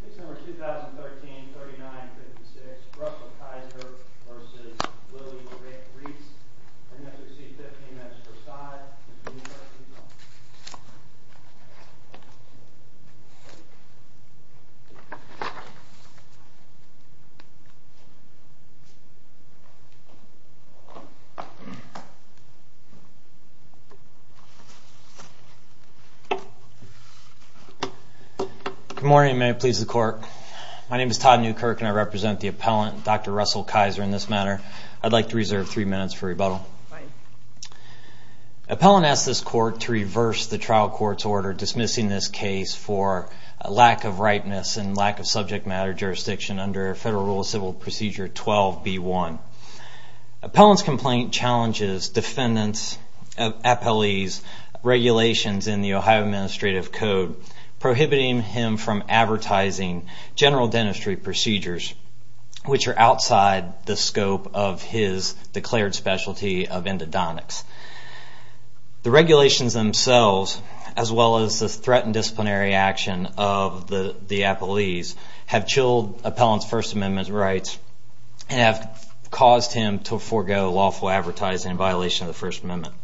This is number 2013-39-56, Russell Kiser v. Lili Reitz, and that's received 15 maps per side, and from New York, Utah. Good morning. May it please the Court. My name is Todd Newkirk, and I represent the appellant, Dr. Russell Kiser, in this matter. I'd like to reserve three minutes for rebuttal. Appellant asks this Court to reverse the trial court's order dismissing this case for lack of ripeness and lack of subject matter jurisdiction under Federal Rule of Civil Procedure 12b-1. Appellant's complaint challenges defendant's, appellee's, regulations in the Ohio Administrative Code prohibiting him from advertising general dentistry procedures which are outside the scope of his declared specialty of endodontics. The regulations themselves, as well as the threat and disciplinary action of the appellee's, have chilled appellant's First Amendment rights and have caused him to forego lawful advertising in violation of the First Amendment.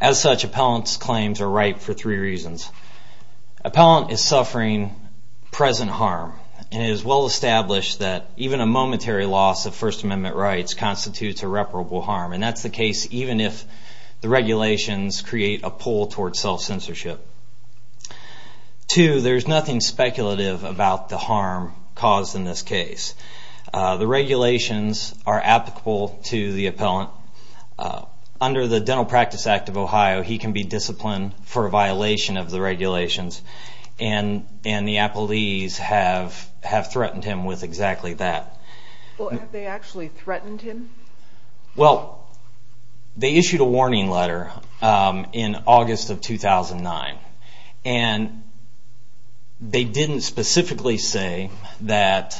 As such, appellant's claims are ripe for three reasons. Appellant is suffering present harm, and it is well established that even a momentary loss of First Amendment rights constitutes irreparable harm, and that's the case even if the regulations create a pull towards self-censorship. Two, there's nothing speculative about the harm caused in this case. The regulations are applicable to the appellant. Under the Dental Practice Act of Ohio, he can be disciplined for a violation of the regulations, and the appellees have threatened him with exactly that. Well, have they actually threatened him? Well, they issued a warning letter in August of 2009, and they didn't specifically say that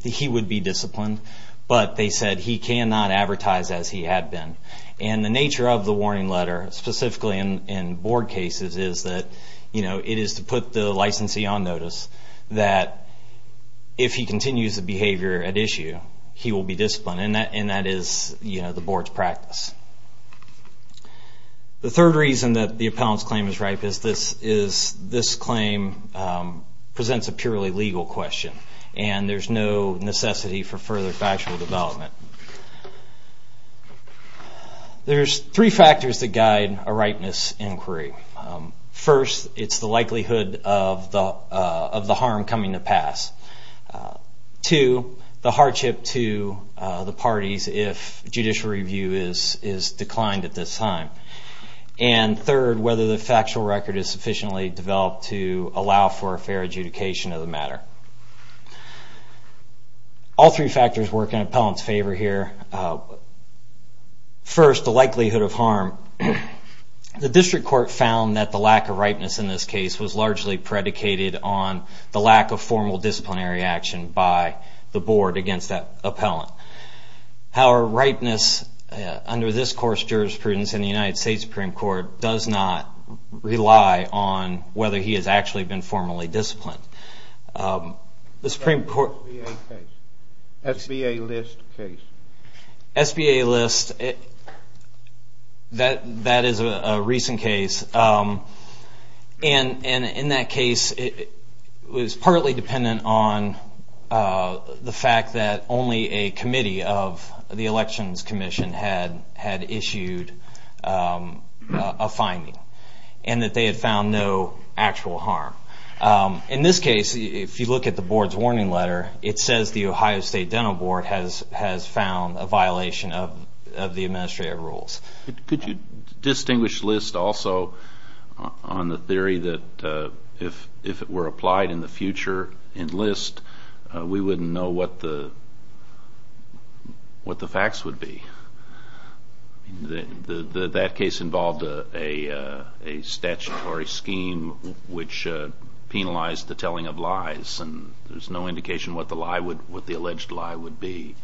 he would be disciplined, but they said he cannot advertise as he had been. And the nature of the warning letter, specifically in board cases, is that, you know, it is to put the licensee on notice that if he continues the behavior at issue, he will be disciplined, and that is, you know, the board's practice. The third reason that the appellant's claim is ripe is this claim presents a purely legal question, and there's no necessity for further factual development. There's three factors that guide a ripeness inquiry. First, it's the likelihood of the harm coming to pass. Two, the hardship to the parties if judicial review is declined at this time. And third, whether the factual record is sufficiently developed to allow for a fair adjudication of the matter. All three factors work in appellant's favor here. First, the likelihood of harm. The district court found that the lack of ripeness in this case was largely predicated on the lack of formal disciplinary action by the board against that appellant. However, ripeness under this course of jurisprudence in the United States Supreme Court does not rely on whether he has actually been formally disciplined. The Supreme Court... SBA list case. SBA list, that is a recent case. And in that case, it was partly dependent on the fact that only a committee of the Elections Commission had issued a finding and that they had found no actual harm. In this case, if you look at the board's warning letter, it says the Ohio State Dental Board has found a violation of the administrative rules. Could you distinguish list also on the theory that if it were applied in the future in list, we wouldn't know what the facts would be? That case involved a statutory scheme which penalized the telling of lies and there's no indication what the alleged lie would be.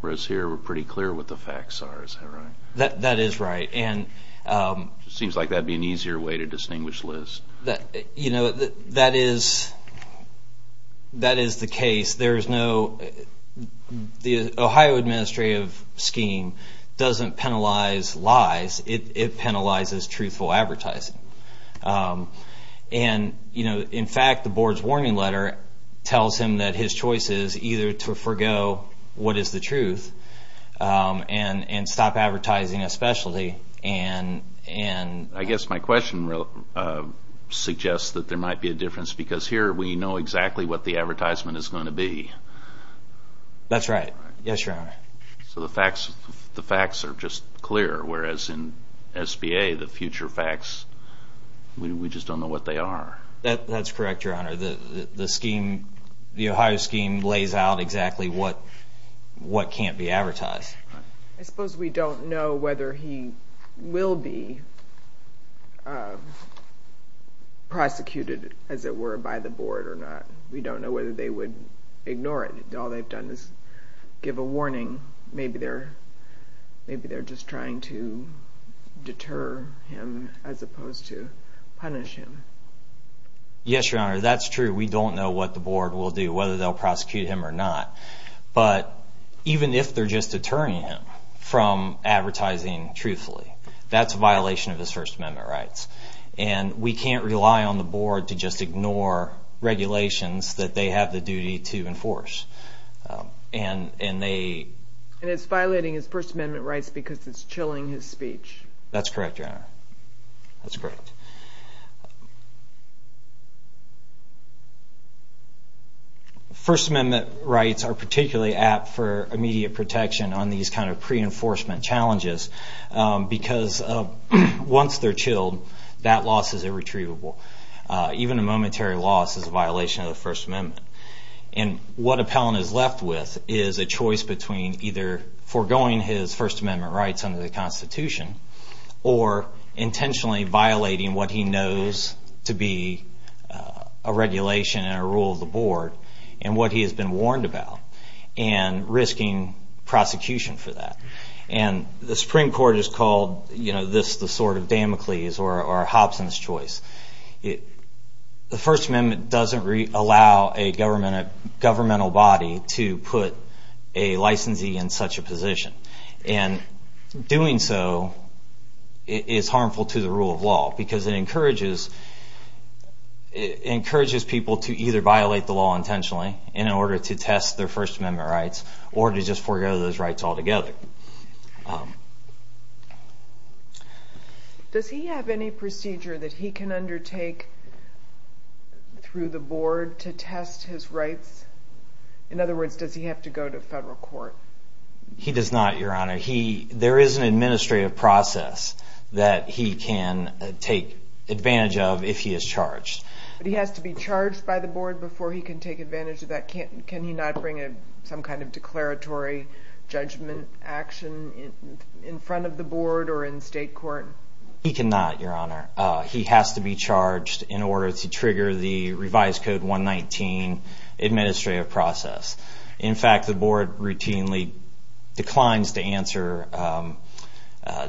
Whereas here, we're pretty clear what the facts are, is that right? That is right. It seems like that would be an easier way to distinguish list. That is the case. The Ohio administrative scheme doesn't penalize lies. It penalizes truthful advertising. In fact, the board's warning letter tells him that his choice is either to forego what is the truth and stop advertising a specialty. I guess my question suggests that there might be a difference because here we know exactly what the advertisement is going to be. That's right. The facts are just clear, whereas in SBA, the future facts, we just don't know what they are. That's correct, Your Honor. The Ohio scheme lays out exactly what can't be advertised. I suppose we don't know whether he will be prosecuted, as it were, by the board or not. We don't know whether they would ignore it. All they've done is give a warning. Maybe they're just trying to deter him as opposed to punish him. Yes, Your Honor, that's true. We don't know what the board will do, whether they'll prosecute him or not. But even if they're just deterring him from advertising truthfully, that's a violation of his First Amendment rights. We can't rely on the board to just ignore regulations that they have the duty to enforce. It's violating his First Amendment rights because it's chilling his speech. That's correct, Your Honor. That's correct. First Amendment rights are particularly apt for immediate protection on these kind of pre-enforcement challenges because once they're chilled, that loss is irretrievable. Even a momentary loss is a violation of the First Amendment. What Appellant is left with is a choice between either foregoing his First Amendment rights under the Constitution or intentionally violating what he knows to be a regulation and a rule of the board and what he has been warned about and risking prosecution for that. The Supreme Court has called this the sort of Damocles or Hobson's choice. The First Amendment doesn't allow a governmental body to put a licensee in such a position. Doing so is harmful to the rule of law because it encourages people to either violate the law intentionally in order to test their First Amendment rights or to just forego those rights altogether. Does he have any procedure that he can undertake through the board to test his rights? In other words, does he have to go to federal court? He does not, Your Honor. There is an administrative process that he can take advantage of if he is charged. But he has to be charged by the board before he can take advantage of that. Can he not bring some kind of declaratory judgment action in front of the board or in state court? He cannot, Your Honor. He has to be charged in order to trigger the revised Code 119 administrative process. In fact, the board routinely declines to answer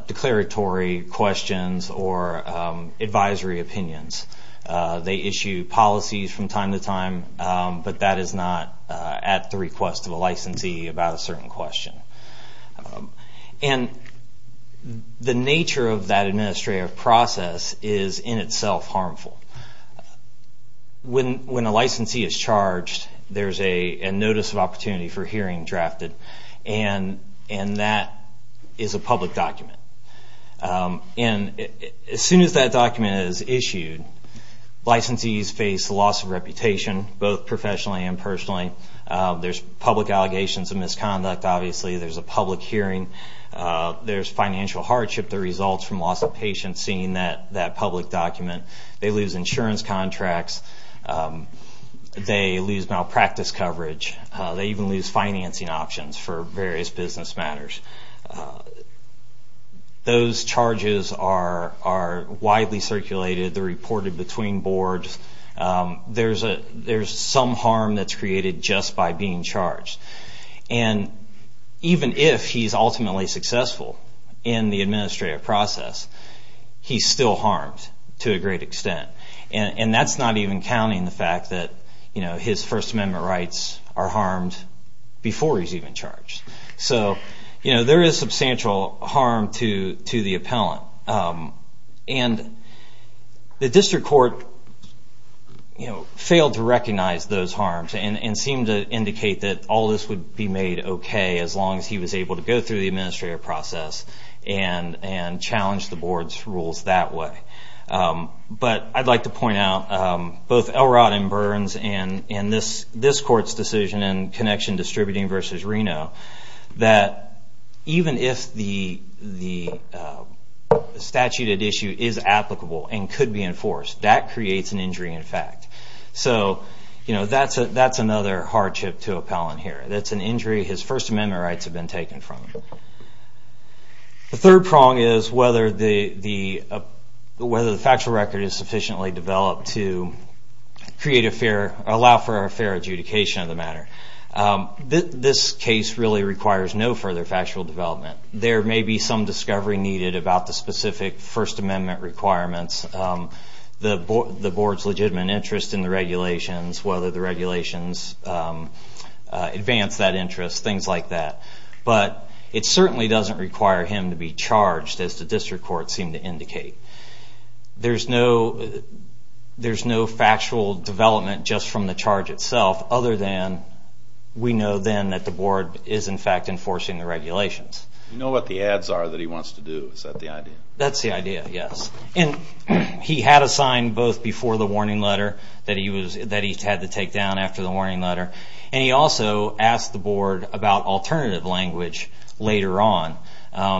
declaratory questions or advisory opinions. They issue policies from time to time. But that is not at the request of a licensee about a certain question. The nature of that administrative process is in itself harmful. When a licensee is charged, there is a notice of opportunity for hearing drafted. And that is a public document. As soon as that document is issued, licensees face loss of reputation, both professionally and personally. There are public allegations of misconduct, obviously. There is a public hearing. There is financial hardship that results from loss of patience seeing that public document. They lose insurance contracts. They lose malpractice coverage. They even lose financing options for various business matters. Those charges are widely circulated. They are reported between boards. There is some harm that is created just by being charged. And even if he is ultimately successful in the administrative process, he is still harmed to a great extent. That is not even counting the fact that his First Amendment rights are harmed before he is even charged. There is substantial harm to the appellant. The district court failed to recognize those harms and seemed to indicate that all this would be made okay as long as he was able to go through the administrative process and challenge the board's rules that way. But I'd like to point out both Elrod and Burns and this court's decision in Connection Distributing v. Reno that even if the statute at issue is applicable and could be enforced, that creates an injury in fact. So that's another hardship to appellant here. That's an injury his First Amendment rights have been taken from him. The third prong is whether the factual record is sufficiently developed to allow for a fair adjudication of the matter. This case really requires no further factual development. There may be some discovery needed about the specific First Amendment requirements, the board's legitimate interest in the regulations, whether the regulations advance that interest, things like that. But it certainly doesn't require him to be charged as the district court seemed to indicate. There's no factual development just from the charge itself other than we know then that the board is in fact enforcing the regulations. You know what the ads are that he wants to do, is that the idea? That's the idea, yes. He had a sign both before the warning letter that he had to take down after the warning letter and he also asked the board about alternative language later on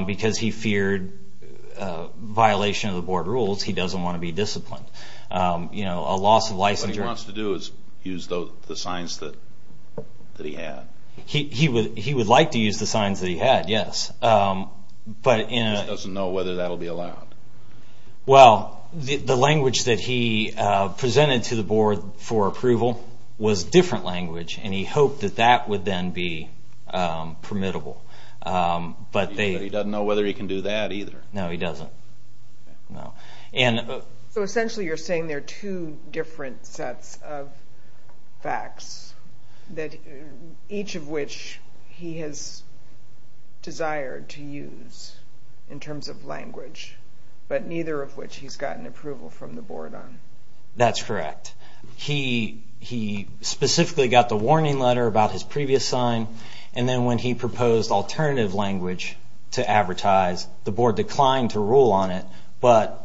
because he feared violation of the board rules. He doesn't want to be disciplined. What he wants to do is use the signs that he had. He would like to use the signs that he had, yes. He just doesn't know whether that will be allowed. Well, the language that he presented to the board for approval was different language and he hoped that that would then be permittable. He doesn't know whether he can do that either. No, he doesn't. So essentially you're saying there are two different sets of facts, each of which he has desired to use in terms of language, but neither of which he's gotten approval from the board on. That's correct. He specifically got the warning letter about his previous sign and then when he proposed alternative language to advertise, the board declined to rule on it but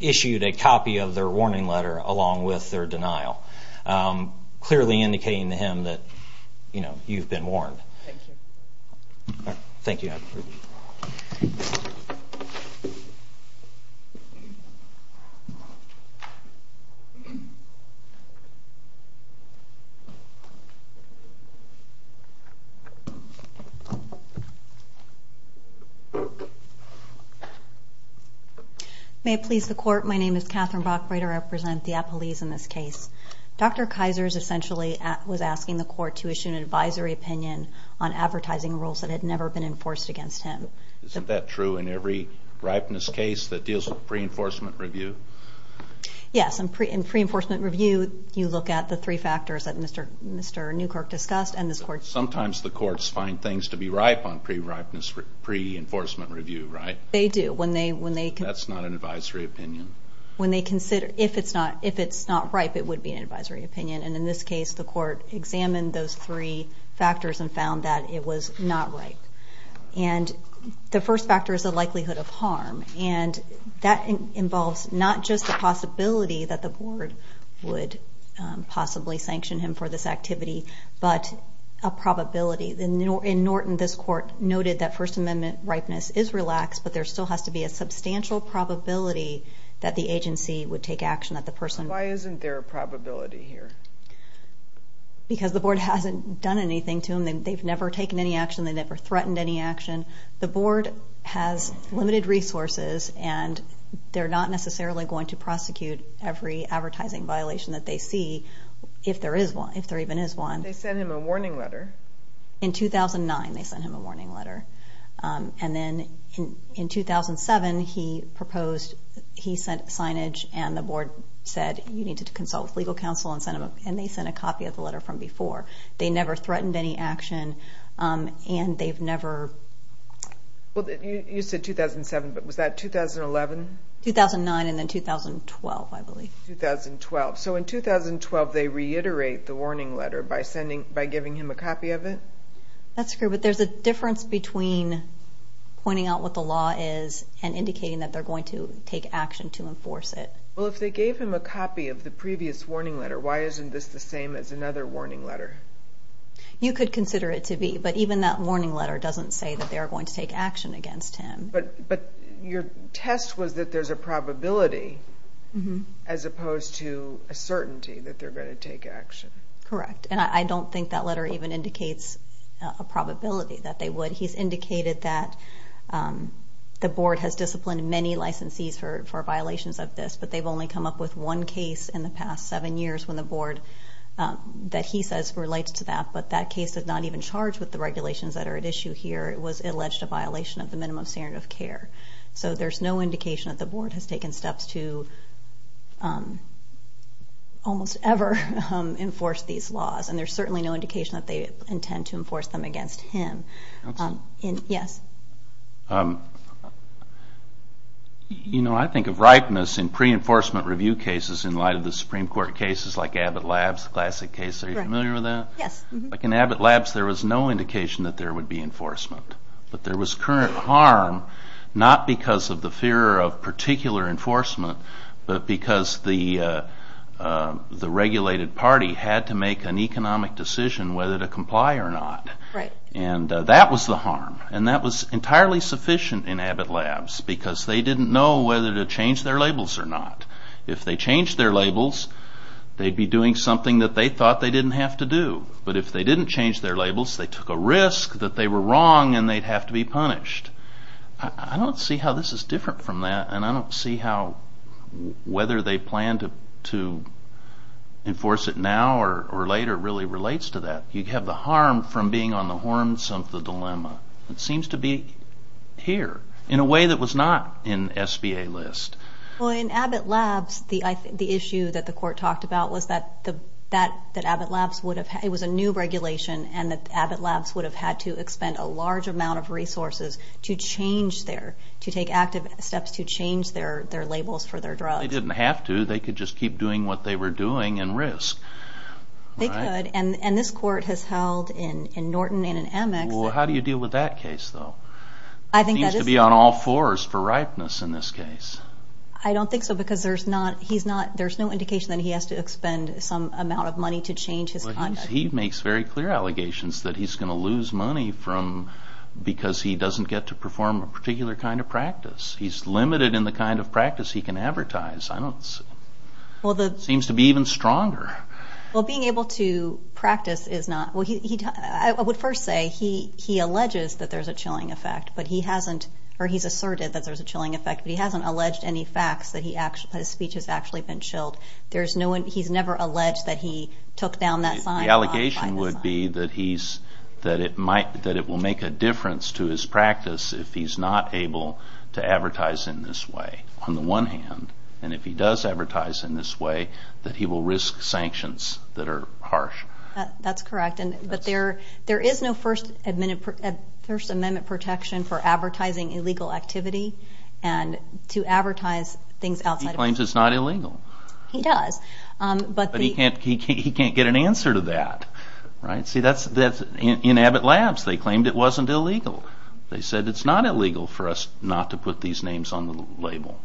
issued a copy of their warning letter along with their denial, clearly indicating to him that you've been warned. Thank you. Thank you. May it please the Court, my name is Catherine Bockbreiter. I represent the Appalachians in this case. Dr. Kizer essentially was asking the Court to issue an advisory opinion on advertising rules that had never been enforced against him. Isn't that true in every ripeness case that deals with pre-enforcement review? Yes, in pre-enforcement review you look at the three factors that Mr. Newkirk discussed and this Court's opinion. Sometimes the courts find things to be ripe on pre-enforcement review, right? They do. That's not an advisory opinion? If it's not ripe, it would be an advisory opinion, and in this case the Court examined those three factors and found that it was not ripe. The first factor is the likelihood of harm, and that involves not just the possibility that the board would possibly sanction him for this activity but a probability. In Norton, this Court noted that First Amendment ripeness is relaxed, but there still has to be a substantial probability that the agency would take action. Why isn't there a probability here? Because the board hasn't done anything to him. They've never taken any action. They've never threatened any action. The board has limited resources, and they're not necessarily going to prosecute every advertising violation that they see, if there even is one. They sent him a warning letter. In 2009 they sent him a warning letter, and then in 2007 he sent signage and the board said, you need to consult with legal counsel, and they sent a copy of the letter from before. They never threatened any action, and they've never... You said 2007, but was that 2011? 2009 and then 2012, I believe. 2012. So in 2012 they reiterate the warning letter by giving him a copy of it? That's correct, but there's a difference between pointing out what the law is and indicating that they're going to take action to enforce it. Well, if they gave him a copy of the previous warning letter, why isn't this the same as another warning letter? You could consider it to be, but even that warning letter doesn't say that they're going to take action against him. But your test was that there's a probability as opposed to a certainty that they're going to take action. Correct, and I don't think that letter even indicates a probability that they would. He's indicated that the board has disciplined many licensees for violations of this, but they've only come up with one case in the past seven years when the board that he says relates to that, but that case does not even charge with the regulations that are at issue here. It was alleged a violation of the minimum standard of care. So there's no indication that the board has taken steps to almost ever enforce these laws, and there's certainly no indication that they intend to enforce them against him. Yes? You know, I think of ripeness in pre-enforcement review cases in light of the Supreme Court cases like Abbott Labs, the classic case. Are you familiar with that? Yes. Like in Abbott Labs, there was no indication that there would be enforcement, but there was current harm not because of the fear of particular enforcement, but because the regulated party had to make an economic decision whether to comply or not. Right. And that was the harm, and that was entirely sufficient in Abbott Labs because they didn't know whether to change their labels or not. If they changed their labels, they'd be doing something that they thought they didn't have to do. But if they didn't change their labels, they took a risk that they were wrong and they'd have to be punished. I don't see how this is different from that, and I don't see how whether they plan to enforce it now or later really relates to that. You have the harm from being on the horns of the dilemma. It seems to be here in a way that was not in SBA list. Well, in Abbott Labs, the issue that the court talked about was that Abbott Labs was a new regulation and that Abbott Labs would have had to expend a large amount of resources to take active steps to change their labels for their drugs. They didn't have to. They could just keep doing what they were doing and risk. They could, and this court has held in Norton and in Amex. Well, how do you deal with that case, though? It seems to be on all fours for ripeness in this case. I don't think so because there's no indication that he has to expend some amount of money to change his conduct. He makes very clear allegations that he's going to lose money because he doesn't get to perform a particular kind of practice. He's limited in the kind of practice he can advertise. It seems to be even stronger. Well, being able to practice is not. I would first say he alleges that there's a chilling effect, or he's asserted that there's a chilling effect, but he hasn't alleged any facts that his speech has actually been chilled. He's never alleged that he took down that sign. The allegation would be that it will make a difference to his practice if he's not able to advertise in this way, on the one hand, and if he does advertise in this way, that he will risk sanctions that are harsh. That's correct, but there is no First Amendment protection for advertising illegal activity and to advertise things outside of... He claims it's not illegal. He does, but... But he can't get an answer to that. In Abbott Labs, they claimed it wasn't illegal. They said it's not illegal for us not to put these names on the label.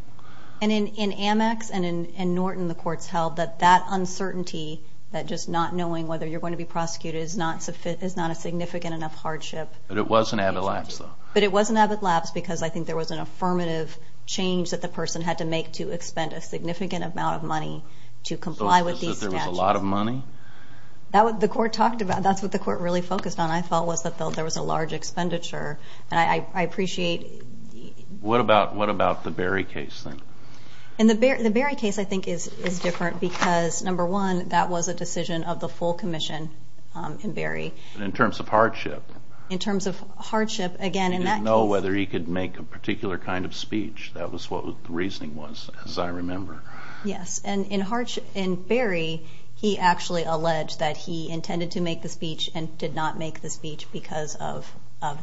And in Amex and in Norton, the courts held that that uncertainty, that just not knowing whether you're going to be prosecuted is not a significant enough hardship... But it was in Abbott Labs, though. But it was in Abbott Labs because I think there was an affirmative change that the person had to make to expend a significant amount of money to comply with these statutes. So it's just that there was a lot of money? That's what the court really focused on, I thought, was that there was a large expenditure, and I appreciate... What about the Berry case, then? The Berry case, I think, is different because, number one, that was a decision of the full commission in Berry. In terms of hardship? In terms of hardship, again, in that case... That was what the reasoning was, as I remember. Yes, and in Berry, he actually alleged that he intended to make the speech and did not make the speech because of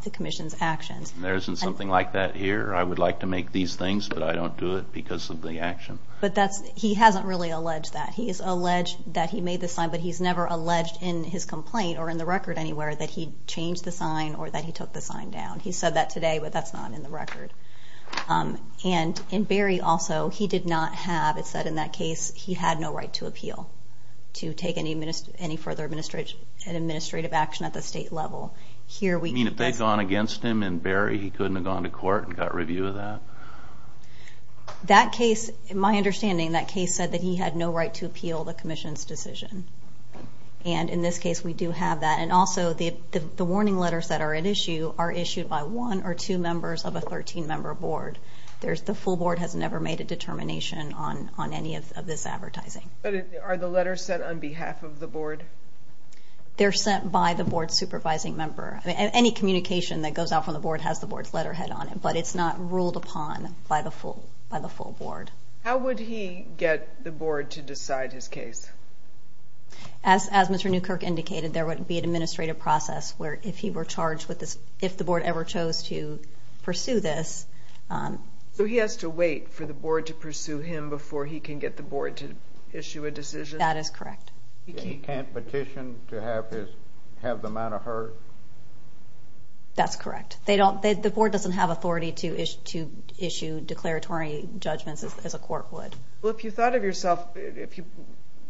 the commission's actions. There isn't something like that here? I would like to make these things, but I don't do it because of the action. But he hasn't really alleged that. He's alleged that he made the sign, but he's never alleged in his complaint or in the record anywhere that he changed the sign or that he took the sign down. He said that today, but that's not in the record. And in Berry, also, he did not have... It said in that case he had no right to appeal to take any further administrative action at the state level. You mean if they'd gone against him in Berry, he couldn't have gone to court and got review of that? That case, in my understanding, that case said that he had no right to appeal the commission's decision. And in this case, we do have that. And also, the warning letters that are at issue are issued by one or two members of a 13-member board. The full board has never made a determination on any of this advertising. But are the letters sent on behalf of the board? They're sent by the board's supervising member. Any communication that goes out from the board has the board's letterhead on it, but it's not ruled upon by the full board. How would he get the board to decide his case? As Mr. Newkirk indicated, there would be an administrative process where if he were charged with this, if the board ever chose to pursue this... So he has to wait for the board to pursue him before he can get the board to issue a decision? That is correct. He can't petition to have the matter heard? That's correct. The board doesn't have authority to issue declaratory judgments as a court would. Well, if you thought of yourself, if you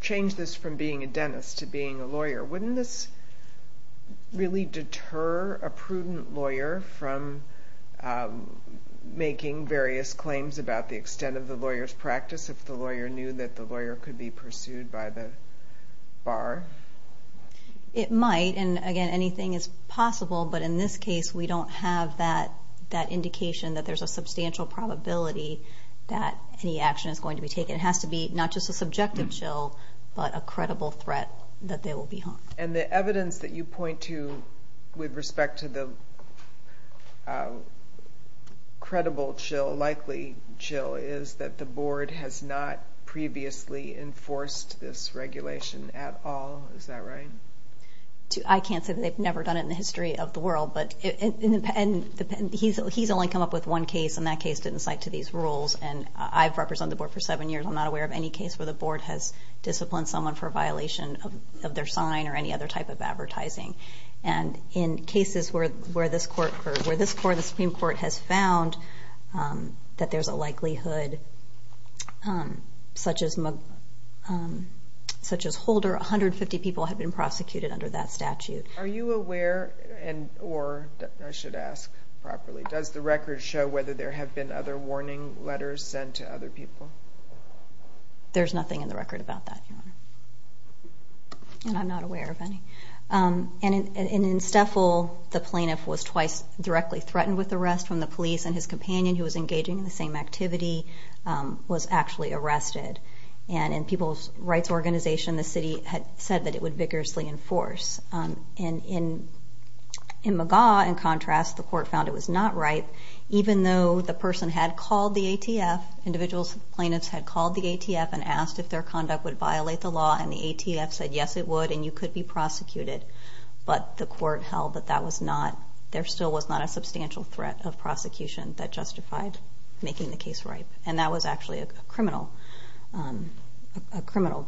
changed this from being a dentist to being a lawyer, wouldn't this really deter a prudent lawyer from making various claims about the extent of the lawyer's practice if the lawyer knew that the lawyer could be pursued by the bar? It might, and again, anything is possible. But in this case, we don't have that indication that there's a substantial probability that any action is going to be taken. It has to be not just a subjective chill, but a credible threat that they will be harmed. And the evidence that you point to with respect to the credible chill, likely chill, is that the board has not previously enforced this regulation at all. Is that right? I can't say that they've never done it in the history of the world. He's only come up with one case, and that case didn't cite to these rules. And I've represented the board for seven years. I'm not aware of any case where the board has disciplined someone for a violation of their sign or any other type of advertising. And in cases where this court, the Supreme Court, has found that there's a likelihood such as Holder, 150 people have been prosecuted under that statute. Are you aware, or I should ask properly, does the record show whether there have been other warning letters sent to other people? There's nothing in the record about that, Your Honor. And I'm not aware of any. And in Steffel, the plaintiff was twice directly threatened with arrest from the police, and his companion, who was engaging in the same activity, was actually arrested. And in People's Rights Organization, the city had said that it would vigorously enforce. In McGaugh, in contrast, the court found it was not ripe, even though the person had called the ATF, individual plaintiffs had called the ATF and asked if their conduct would violate the law. And the ATF said, yes, it would, and you could be prosecuted. But the court held that that was not, there still was not a substantial threat of prosecution that justified making the case ripe. And that was actually a criminal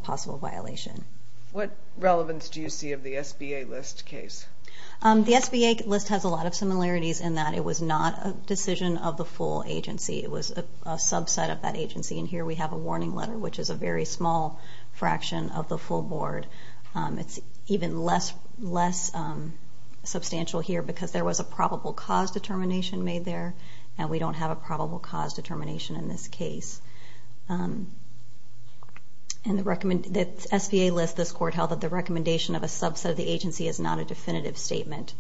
possible violation. What relevance do you see of the SBA list case? The SBA list has a lot of similarities in that it was not a decision of the full agency. It was a subset of that agency. And here we have a warning letter, which is a very small fraction of the full board. It's even less substantial here because there was a probable cause determination made there, and we don't have a probable cause determination in this case. And the SBA list, this court held that the recommendation of a subset of the agency is not a definitive statement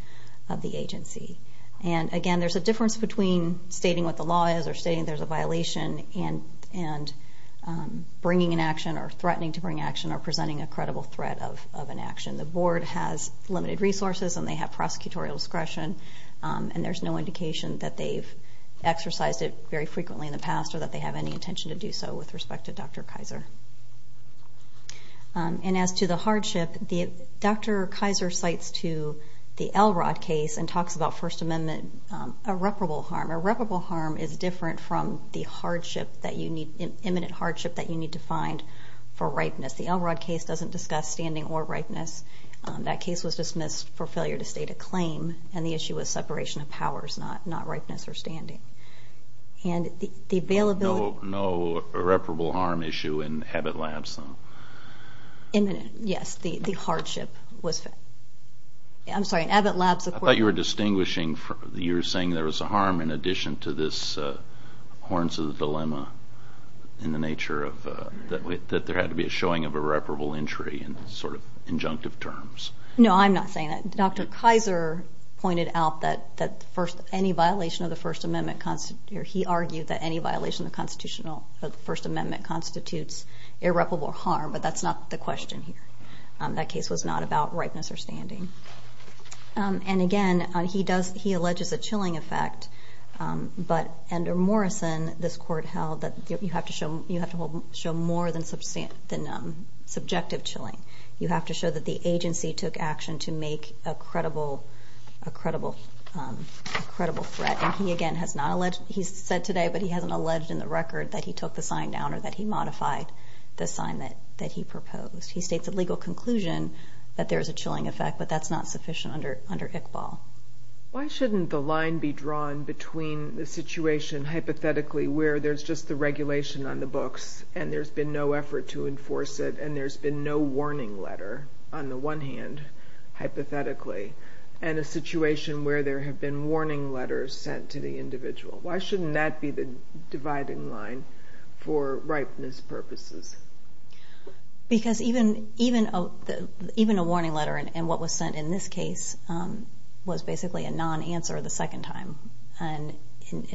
of the agency. And again, there's a difference between stating what the law is or stating there's a violation and bringing an action or threatening to bring action or presenting a credible threat of an action. The board has limited resources and they have prosecutorial discretion, and there's no indication that they've exercised it very frequently in the past or that they have any intention to do so with respect to Dr. Kaiser. And as to the hardship, Dr. Kaiser cites to the Elrod case and talks about First Amendment irreparable harm. Irreparable harm is different from the hardship that you need, imminent hardship that you need to find for ripeness. The Elrod case doesn't discuss standing or ripeness. That case was dismissed for failure to state a claim, and the issue was separation of powers, not ripeness or standing. And the availability... No irreparable harm issue in Abbott Labs, though? Imminent, yes. The hardship was... I'm sorry, in Abbott Labs... I thought you were distinguishing, you were saying there was a harm in addition to this horns of the dilemma in the nature of that there had to be a showing of irreparable injury in sort of injunctive terms. No, I'm not saying that. Dr. Kaiser pointed out that any violation of the First Amendment or he argued that any violation of the First Amendment constitutes irreparable harm, but that's not the question here. That case was not about ripeness or standing. And again, he alleges a chilling effect, but under Morrison, this court held that you have to show more than subjective chilling. You have to show that the agency took action to make a credible threat. And he again has not alleged, he said today, but he hasn't alleged in the record that he took the sign down or that he modified the sign that he proposed. He states a legal conclusion that there is a chilling effect, but that's not sufficient under Iqbal. Why shouldn't the line be drawn between the situation hypothetically where there's just the regulation on the books and there's been no effort to enforce it and there's been no warning letter on the one hand, hypothetically, and a situation where there have been warning letters sent to the individual? Why shouldn't that be the dividing line for ripeness purposes? Because even a warning letter and what was sent in this case was basically a non-answer the second time. And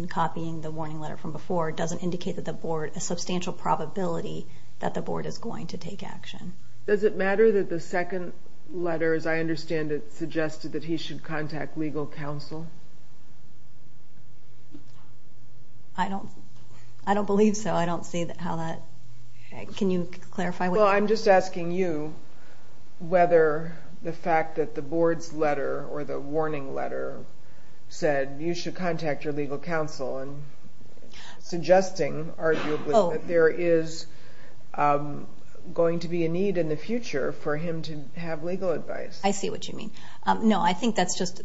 copying the warning letter from before doesn't indicate that the board, a substantial probability that the board is going to take action. Does it matter that the second letter, as I understand it, suggested that he should contact legal counsel? I don't believe so. I don't see how that, can you clarify? Well, I'm just asking you whether the fact that the board's letter or the warning letter said you should contact your legal counsel and suggesting, arguably, that there is going to be a need in the future for him to have legal advice. I see what you mean. No, I think that's just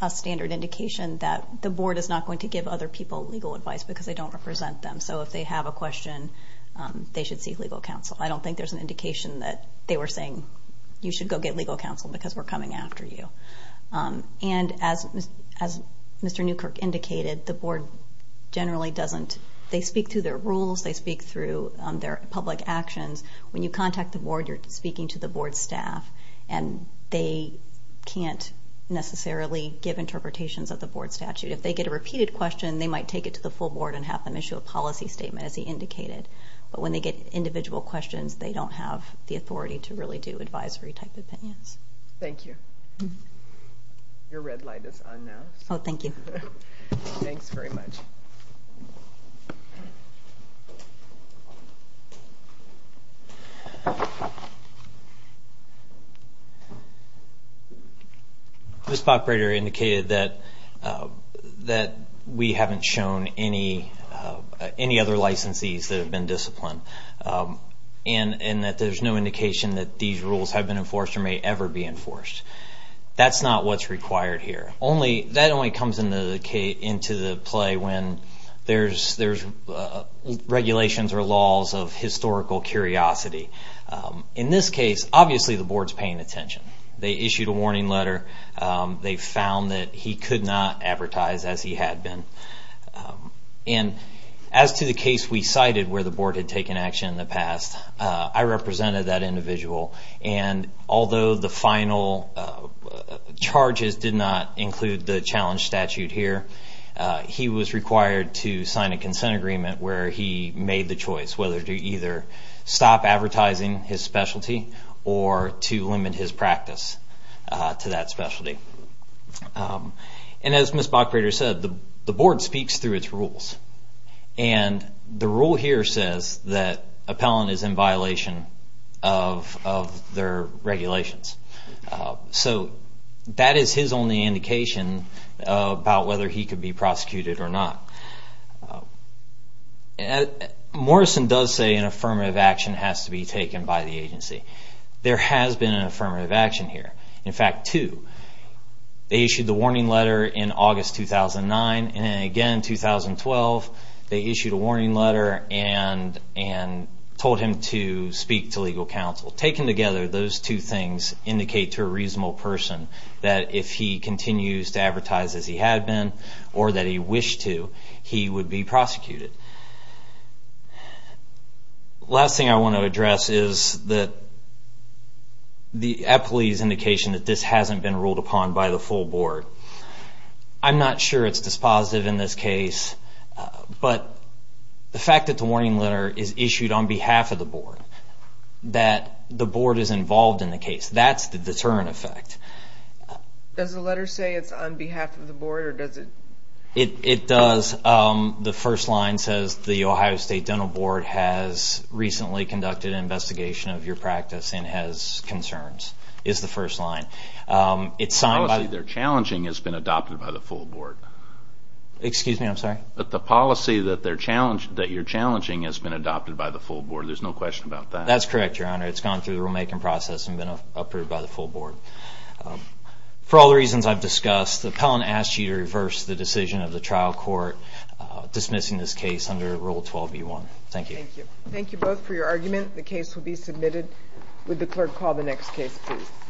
a standard indication that the board is not going to give other people legal advice because they don't represent them. So if they have a question, they should seek legal counsel. I don't think there's an indication that they were saying, you should go get legal counsel because we're coming after you. And as Mr. Newkirk indicated, the board generally doesn't, they speak through their rules, they speak through their public actions. When you contact the board, you're speaking to the board staff, and they can't necessarily give interpretations of the board statute. If they get a repeated question, they might take it to the full board and have them issue a policy statement, as he indicated. But when they get individual questions, they don't have the authority to really do advisory-type opinions. Thank you. Your red light is on now. Oh, thank you. Thanks very much. Ms. Bachbrater indicated that we haven't shown any other licensees that have been disciplined, and that there's no indication that these rules have been enforced or may ever be enforced. That's not what's required here. That only comes into play when there's regulations or laws of historical curiosity. In this case, obviously the board's paying attention. They issued a warning letter. They found that he could not advertise as he had been. And as to the case we cited where the board had taken action in the past, I represented that individual. And although the final charges did not include the challenge statute here, he was required to sign a consent agreement where he made the choice whether to either stop advertising his specialty or to limit his practice to that specialty. And as Ms. Bachbrater said, the board speaks through its rules. And the rule here says that appellant is in violation of their regulations. So that is his only indication about whether he could be prosecuted or not. Morrison does say an affirmative action has to be taken by the agency. There has been an affirmative action here. In fact, two. They issued the warning letter in August 2009. And again in 2012, they issued a warning letter and told him to speak to legal counsel. Taken together, those two things indicate to a reasonable person that if he continues to advertise as he had been or that he wished to, he would be prosecuted. The last thing I want to address is the appellee's indication that this hasn't been ruled upon by the full board. I'm not sure it's dispositive in this case, but the fact that the warning letter is issued on behalf of the board, that the board is involved in the case, that's the deterrent effect. Does the letter say it's on behalf of the board or does it? It does. The first line says the Ohio State Dental Board has recently conducted an investigation of your practice and has concerns, is the first line. The policy they're challenging has been adopted by the full board. Excuse me, I'm sorry? The policy that you're challenging has been adopted by the full board. There's no question about that. That's correct, Your Honor. It's gone through the rulemaking process and been approved by the full board. For all the reasons I've discussed, the appellant asks you to reverse the decision of the trial court dismissing this case under Rule 12b1. Thank you. Thank you both for your argument. The case will be submitted. Would the clerk call the next case, please?